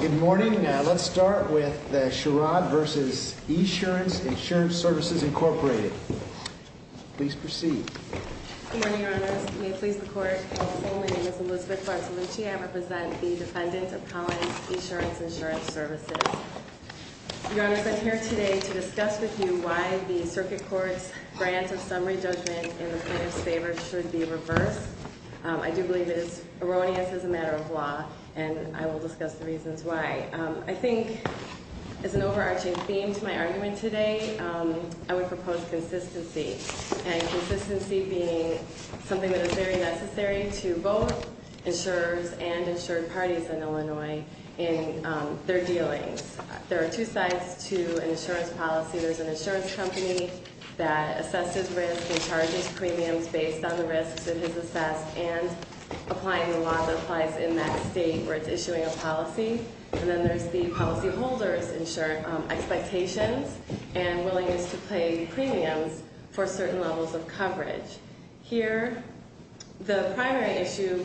Good morning. Let's start with the Sherrod v. Esurance Insurance Services, Inc. Please proceed. Good morning, Your Honors. May it please the Court, in the full name of Elizabeth Barcelucci, I represent the defendants of Collins Esurance Insurance Services. Your Honors, I'm here today to discuss with you why the Circuit Court's grant of summary judgment in the plaintiff's favor should be reversed. I do believe it is erroneous as a matter of law, and I will discuss the reasons why. I think as an overarching theme to my argument today, I would propose consistency. And consistency being something that is very necessary to both insurers and insured parties in Illinois in their dealings. There are two sides to an insurance policy. There's an insurance company that assesses risk and charges premiums based on the risks that it's assessed, and applying the law that applies in that state where it's issuing a policy. And then there's the policyholder's expectations and willingness to pay premiums for certain levels of coverage. Here, the primary issue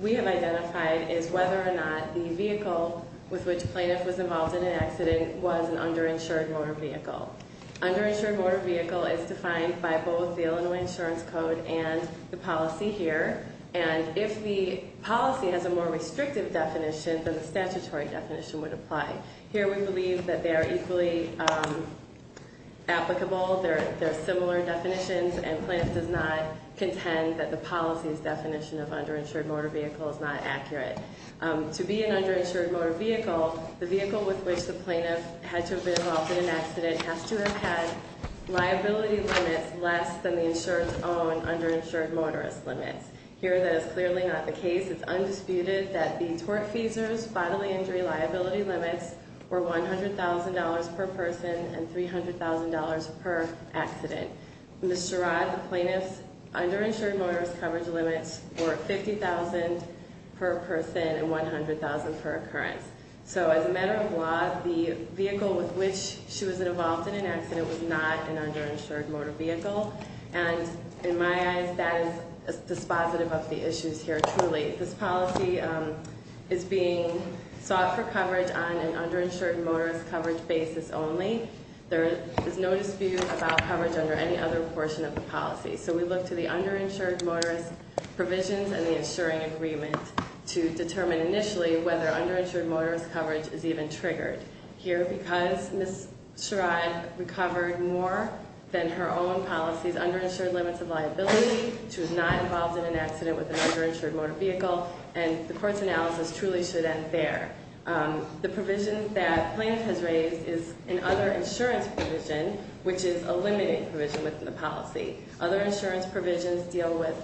we have identified is whether or not the vehicle with which the plaintiff was involved in an accident was an underinsured motor vehicle. Underinsured motor vehicle is defined by both the Illinois Insurance Code and the policy here. And if the policy has a more restrictive definition, then the statutory definition would apply. Here, we believe that they are equally applicable. They're similar definitions, and plaintiff does not contend that the policy's definition of underinsured motor vehicle is not accurate. To be an underinsured motor vehicle, the vehicle with which the plaintiff had to have been involved in an accident has to have had liability limits less than the insured's own underinsured motorist limits. Here, that is clearly not the case. It's undisputed that the tortfeasor's bodily injury liability limits were $100,000 per person and $300,000 per accident. Mr. Rod, the plaintiff's underinsured motorist coverage limits were $50,000 per person and $100,000 per occurrence. So as a matter of law, the vehicle with which she was involved in an accident was not an underinsured motor vehicle. And in my eyes, that is dispositive of the issues here, truly. This policy is being sought for coverage on an underinsured motorist coverage basis only. There is no dispute about coverage under any other portion of the policy. So we look to the underinsured motorist provisions and the insuring agreement to determine initially whether underinsured motorist coverage is even triggered. Here, because Ms. Sherrod recovered more than her own policy's underinsured limits of liability, she was not involved in an accident with an underinsured motor vehicle, and the court's analysis truly should end there. The provision that plaintiff has raised is an other insurance provision, which is a limited provision within the policy. Other insurance provisions deal with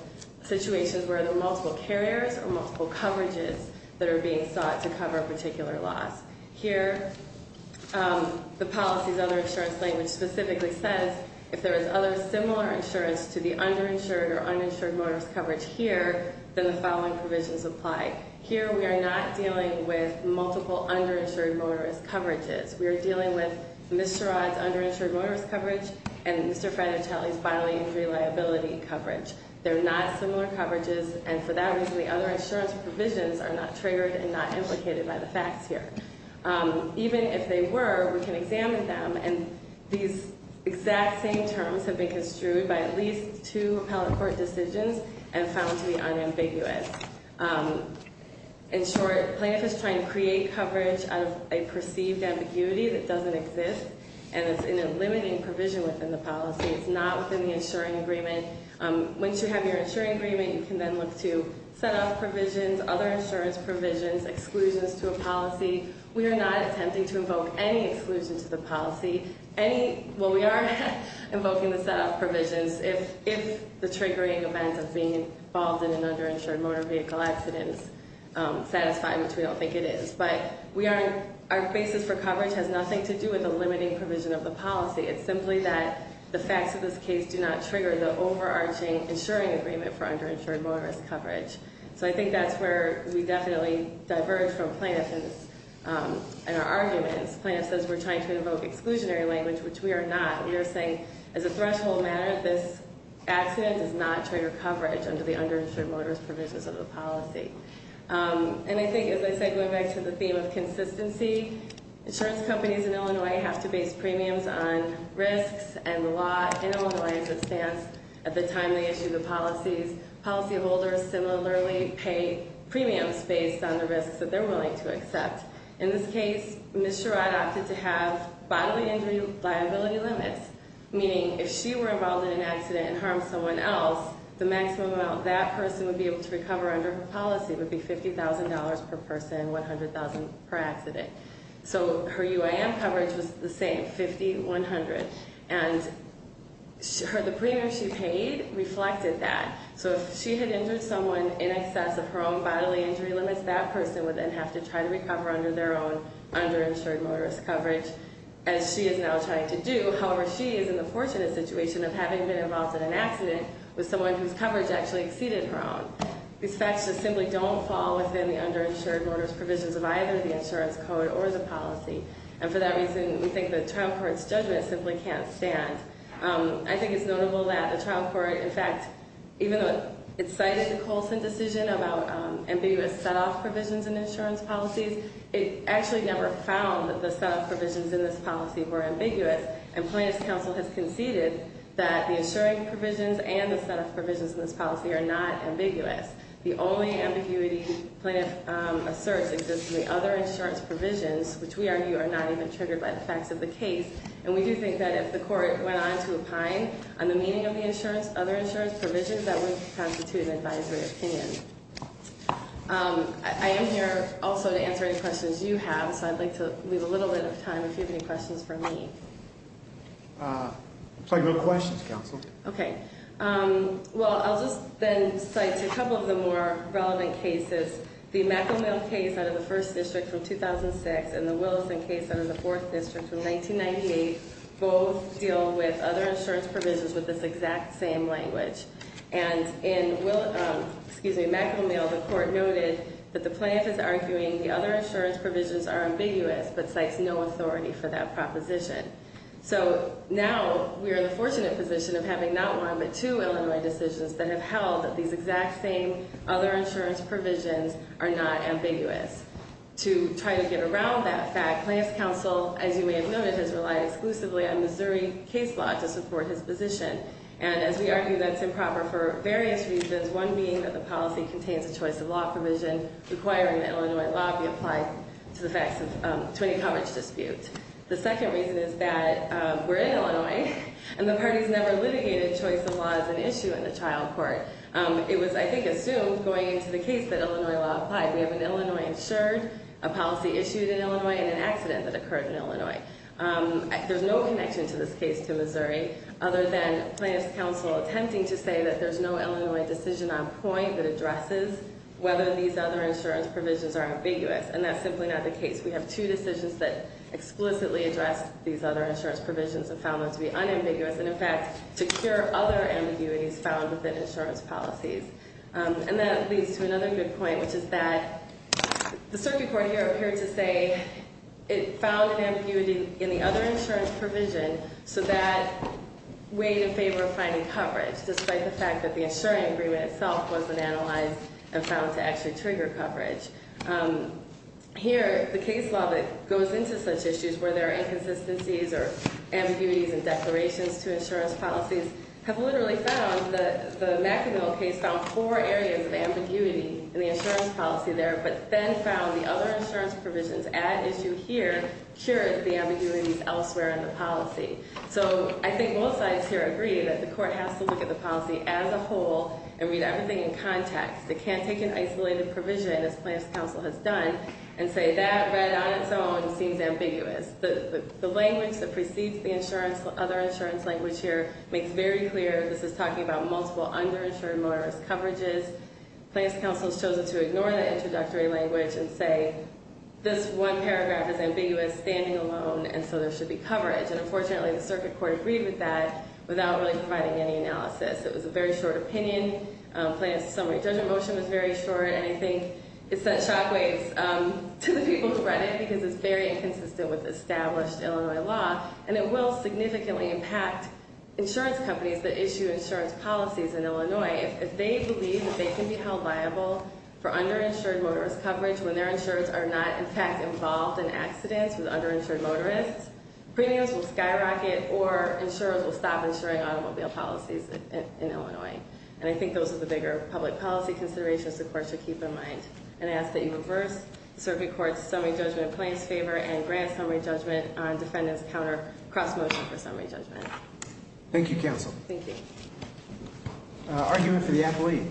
situations where there are multiple carriers or multiple coverages that are being sought to cover a particular loss. Here, the policy's other insurance language specifically says, if there is other similar insurance to the underinsured or uninsured motorist coverage here, then the following provisions apply. Here, we are not dealing with multiple underinsured motorist coverages. We are dealing with Ms. Sherrod's underinsured motorist coverage and Mr. Fratelli's filing injury liability coverage. They're not similar coverages, and for that reason, the other insurance provisions are not triggered and not implicated by the facts here. Even if they were, we can examine them, and these exact same terms have been construed by at least two appellate court decisions and found to be unambiguous. In short, plaintiff is trying to create coverage out of a perceived ambiguity that doesn't exist, and it's in a limiting provision within the policy. It's not within the insuring agreement. Once you have your insuring agreement, you can then look to set up provisions, other insurance provisions, exclusions to a policy. We are not attempting to invoke any exclusion to the policy. Well, we are invoking the set-up provisions if the triggering event of being involved in an underinsured motor vehicle accident is satisfying, which we don't think it is. But our basis for coverage has nothing to do with a limiting provision of the policy. It's simply that the facts of this case do not trigger the overarching insuring agreement for underinsured motorist coverage. So I think that's where we definitely diverge from plaintiff in our arguments. Plaintiff says we're trying to invoke exclusionary language, which we are not. We are saying, as a threshold matter, this accident does not trigger coverage under the underinsured motorist provisions of the policy. And I think, as I said, going back to the theme of consistency, insurance companies in Illinois have to base premiums on risks and the law in Illinois as it stands at the time they issue the policies. Policyholders similarly pay premiums based on the risks that they're willing to accept. In this case, Ms. Sherrod opted to have bodily injury liability limits, meaning if she were involved in an accident and harmed someone else, the maximum amount that person would be able to recover under her policy would be $50,000 per person, $100,000 per accident. So her UAM coverage was the same, $50,000, $100,000. And the premium she paid reflected that. So if she had injured someone in excess of her own bodily injury limits, that person would then have to try to recover under their own underinsured motorist coverage, as she is now trying to do. However, she is in the fortunate situation of having been involved in an accident with someone whose coverage actually exceeded her own. These facts just simply don't fall within the underinsured motorist provisions of either the insurance code or the policy. And for that reason, we think the trial court's judgment simply can't stand. I think it's notable that the trial court, in fact, even though it cited the Coulson decision about ambiguous set-off provisions in insurance policies, it actually never found that the set-off provisions in this policy were ambiguous. And plaintiff's counsel has conceded that the assuring provisions and the set-off provisions in this policy are not ambiguous. The only ambiguity plaintiff asserts exists in the other insurance provisions, which we argue are not even triggered by the facts of the case. And we do think that if the court went on to opine on the meaning of the other insurance provisions, that wouldn't constitute an advisory opinion. I am here also to answer any questions you have, so I'd like to leave a little bit of time if you have any questions for me. I'm sorry, no questions, counsel. Okay. Well, I'll just then cite a couple of the more relevant cases. The McElmill case out of the 1st District from 2006 and the Willison case out of the 4th District from 1998 both deal with other insurance provisions with this exact same language. And in McElmill, the court noted that the plaintiff is arguing the other insurance provisions are ambiguous but cites no authority for that proposition. So now we are in the fortunate position of having not one but two Illinois decisions that have held that these exact same other insurance provisions are not ambiguous. To try to get around that fact, plaintiff's counsel, as you may have noted, has relied exclusively on Missouri case law to support his position. And as we argue that's improper for various reasons, one being that the policy contains a choice of law provision requiring that Illinois law be applied to the facts of 20 coverage dispute. The second reason is that we're in Illinois and the parties never litigated choice of law as an issue in the child court. It was, I think, assumed going into the case that Illinois law applied. We have an Illinois insured, a policy issued in Illinois, and an accident that occurred in Illinois. There's no connection to this case to Missouri other than plaintiff's counsel attempting to say that there's no Illinois decision on point that addresses whether these other insurance provisions are ambiguous. And that's simply not the case. We have two decisions that explicitly address these other insurance provisions and found them to be unambiguous and, in fact, secure other ambiguities found within insurance policies. And that leads to another good point, which is that the circuit court here appeared to say it found an ambiguity in the other insurance provision so that weighed in favor of finding coverage, despite the fact that the insuring agreement itself wasn't analyzed and found to actually trigger coverage. Here, the case law that goes into such issues where there are inconsistencies or ambiguities in declarations to insurance policies have literally found, the McEnil case found four areas of ambiguity in the insurance policy there, but then found the other insurance provisions at issue here cured the ambiguities elsewhere in the policy. So I think both sides here agree that the court has to look at the policy as a whole and read everything in context. It can't take an isolated provision, as Plaintiff's counsel has done, and say that read on its own seems ambiguous. The language that precedes the other insurance language here makes very clear this is talking about multiple underinsured motorist coverages. Plaintiff's counsel has chosen to ignore the introductory language and say this one paragraph is ambiguous standing alone and so there should be coverage. And unfortunately, the circuit court agreed with that without really providing any analysis. It was a very short opinion. Plaintiff's summary judgment motion was very short and I think it sent shockwaves to the people who read it because it's very inconsistent with established Illinois law. And it will significantly impact insurance companies that issue insurance policies in Illinois. If they believe that they can be held viable for underinsured motorist coverage when their insurers are not, in fact, involved in accidents with underinsured motorists, premiums will skyrocket or insurers will stop insuring automobile policies in Illinois. And I think those are the bigger public policy considerations the court should keep in mind. And I ask that you reverse the circuit court's summary judgment in Plaintiff's favor and grant summary judgment on defendant's counter cross motion for summary judgment. Thank you, counsel. Thank you. Argument for the appellee.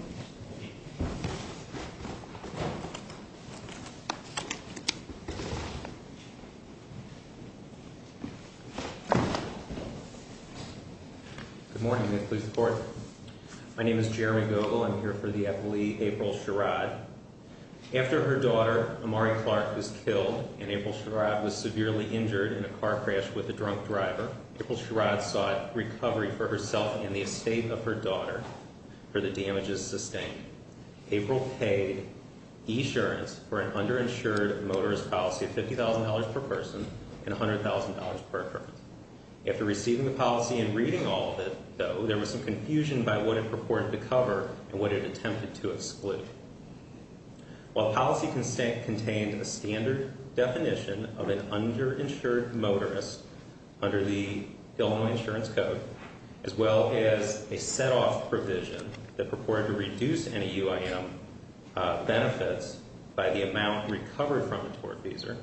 Good morning. Good morning. Please report. My name is Jeremy Gogol. I'm here for the appellee, April Sherrod. After her daughter, Amari Clark, was killed and April Sherrod was severely injured in a car crash with a drunk driver, April Sherrod sought recovery for herself and the estate of her daughter for the damages sustained. April paid e-insurance for an underinsured motorist policy of $50,000 per person and $100,000 per person. After receiving the policy and reading all of it, though, there was some confusion by what it purported to cover and what it attempted to exclude. While the policy contained a standard definition of an underinsured motorist under the Illinois Insurance Code, as well as a set-off provision that purported to reduce any UIM benefits by the amount recovered from a tort visa,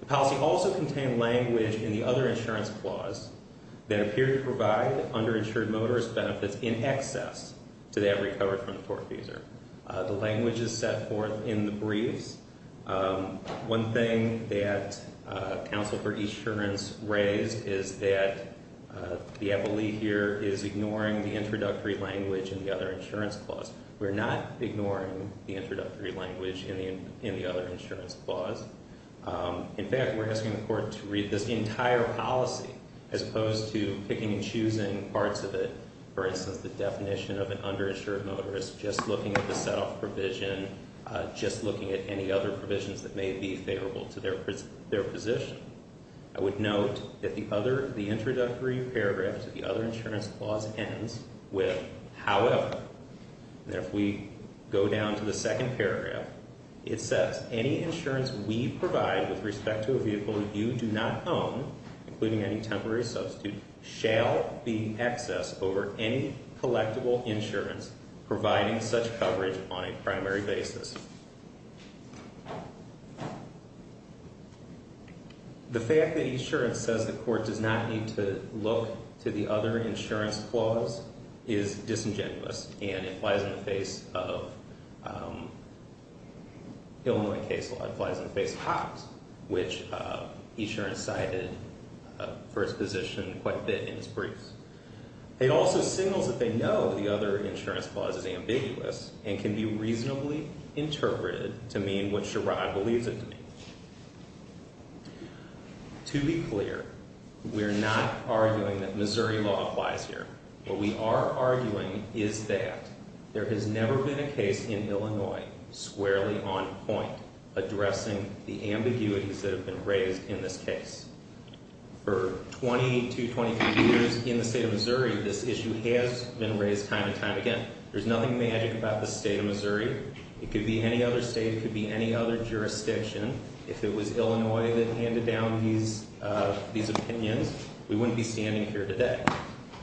the policy also contained language in the other insurance clause that appeared to provide underinsured motorist benefits in excess to that recovered from the tort visa. The language is set forth in the briefs. One thing that counsel for e-insurance raised is that the appellee here is ignoring the introductory language in the other insurance clause. We're not ignoring the introductory language in the other insurance clause. In fact, we're asking the court to read this entire policy as opposed to picking and choosing parts of it. For instance, the definition of an underinsured motorist, just looking at the set-off provision, just looking at any other provisions that may be favorable to their position. I would note that the introductory paragraph to the other insurance clause ends with, however. If we go down to the second paragraph, it says, Any insurance we provide with respect to a vehicle you do not own, including any temporary substitute, shall be accessed over any collectible insurance providing such coverage on a primary basis. The fact that e-insurance says the court does not need to look to the other insurance clause is disingenuous. And it flies in the face of Illinois case law. It flies in the face of HOPPS, which e-insurance cited for its position quite a bit in its briefs. It also signals that they know the other insurance clause is ambiguous and can be reasonably interpreted to mean what Sherrod believes it to mean. To be clear, we're not arguing that Missouri law applies here. What we are arguing is that there has never been a case in Illinois squarely on point addressing the ambiguities that have been raised in this case. For 20 to 25 years in the state of Missouri, this issue has been raised time and time again. There's nothing magic about the state of Missouri. It could be any other state. It could be any other jurisdiction. If it was Illinois that handed down these opinions, we wouldn't be standing here today.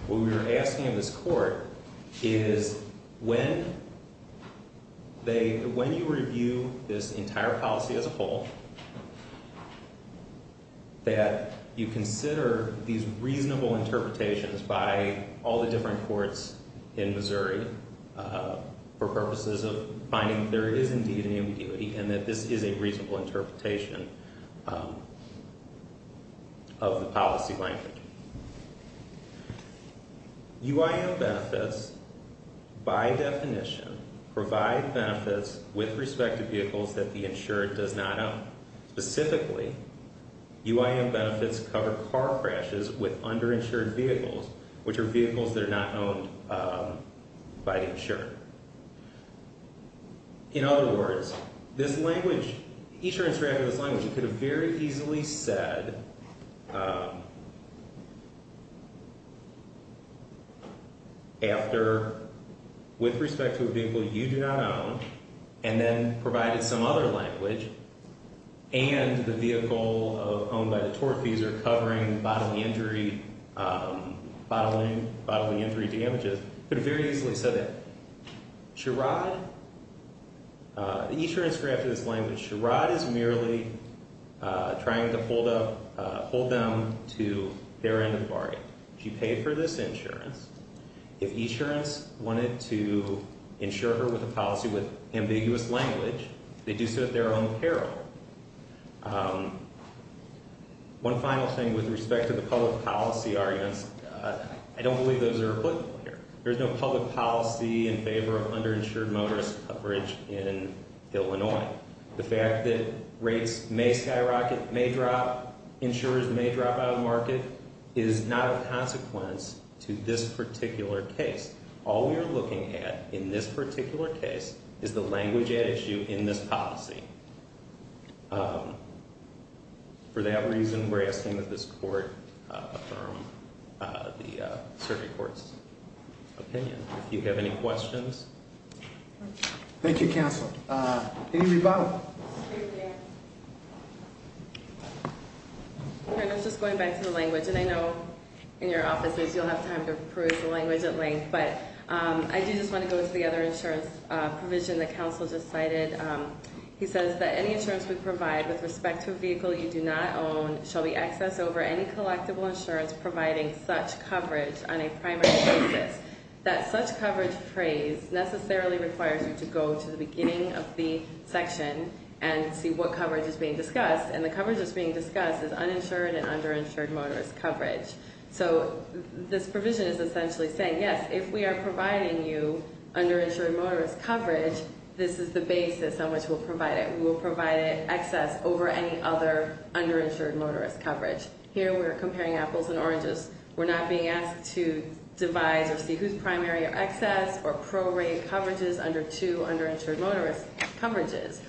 What we are asking of this court is, when you review this entire policy as a whole, that you consider these reasonable interpretations by all the different courts in Missouri for purposes of finding that there is indeed an ambiguity and that this is a reasonable interpretation of the policy language. UIM benefits, by definition, provide benefits with respect to vehicles that the insured does not own. Specifically, UIM benefits cover car crashes with underinsured vehicles, which are vehicles that are not owned by the insured. In other words, this language, insurance drafting this language, you could have very easily said after, with respect to a vehicle you do not own, and then provided some other language, and the vehicle owned by the tortfeasor covering bodily injury damages, you could have very easily said that. Sherrod, the insurance draft of this language, Sherrod is merely trying to hold them to their end of the bargain. She paid for this insurance. If insurance wanted to insure her with a policy with ambiguous language, they do so at their own peril. One final thing with respect to the public policy arguments, I don't believe those are applicable here. There is no public policy in favor of underinsured motorist coverage in Illinois. The fact that rates may skyrocket, may drop, insurers may drop out of the market, is not a consequence to this particular case. All we are looking at, in this particular case, is the language at issue in this policy. For that reason, we're asking that this court affirm the circuit court's opinion. If you have any questions. Thank you, Counselor. Any rebuttal? I was just going back to the language, and I know in your offices you'll have time to prove the language at length, but I do just want to go to the other insurance provision that Counsel just cited. He says that any insurance we provide with respect to a vehicle you do not own shall be accessed over any collectible insurance providing such coverage on a primary basis. That such coverage phrase necessarily requires you to go to the beginning of the section and see what coverage is being discussed, and the coverage that's being discussed is uninsured and underinsured motorist coverage. So this provision is essentially saying, yes, if we are providing you underinsured motorist coverage, this is the basis on which we'll provide it. We will provide it excess over any other underinsured motorist coverage. Here we're comparing apples and oranges. We're not being asked to devise or see who's primary or excess or prorate coverages under two underinsured motorist coverages.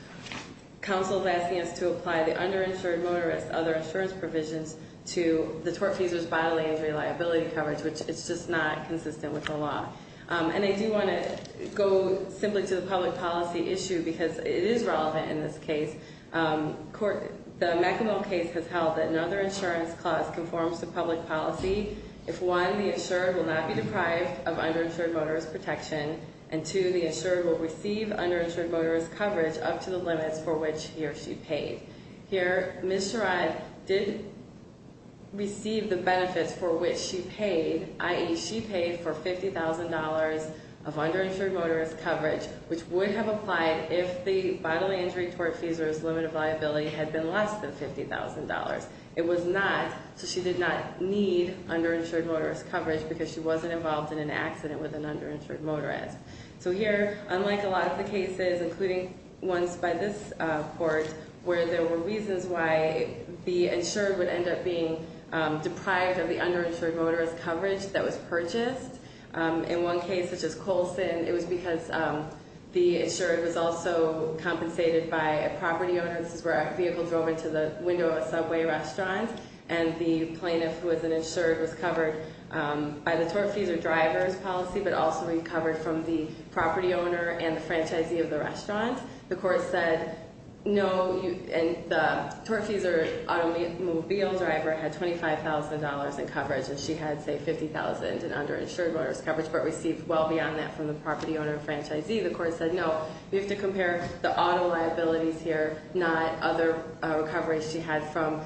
Counsel is asking us to apply the underinsured motorist other insurance provisions to the tort pleaser's bodily injury liability coverage, which is just not consistent with the law. And I do want to go simply to the public policy issue because it is relevant in this case. The Mecklenburg case has held that another insurance clause conforms to public policy if one, the insured will not be deprived of underinsured motorist protection, and two, the insured will receive underinsured motorist coverage up to the limits for which he or she paid. Here, Ms. Sherrod did receive the benefits for which she paid, i.e., she paid for $50,000 of underinsured motorist coverage, which would have applied if the bodily injury tort pleaser's limited liability had been less than $50,000. It was not, so she did not need underinsured motorist coverage because she wasn't involved in an accident with an underinsured motorist. So here, unlike a lot of the cases, including ones by this court, where there were reasons why the insured would end up being deprived of the underinsured motorist coverage that was purchased, in one case, such as Colson, it was because the insured was also compensated by a property owner. This is where a vehicle drove into the window of a Subway restaurant, and the plaintiff, who was an insured, was covered by the tort pleaser driver's policy, but also recovered from the property owner and the franchisee of the restaurant. The court said, no, and the tort pleaser automobile driver had $25,000 in coverage, and she had, say, $50,000 in underinsured motorist coverage, but received well beyond that from the property owner and franchisee. The court said, no, we have to compare the auto liabilities here, not other recoveries she had from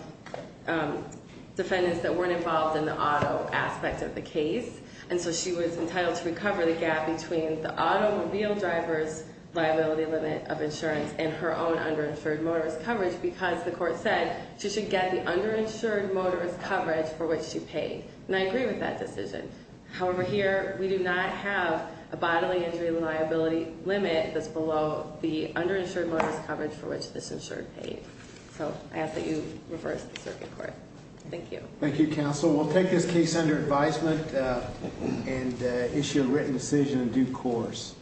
defendants that weren't involved in the auto aspect of the case, and so she was entitled to recover the gap between the automobile driver's liability limit of insurance and her own underinsured motorist coverage because the court said she should get the underinsured motorist coverage for which she paid, and I agree with that decision. However, here, we do not have a bodily injury liability limit that's below the underinsured motorist coverage for which this insured paid. So I ask that you reverse the circuit court. Thank you. Thank you, counsel. We'll take this case under advisement and issue a written decision in due course.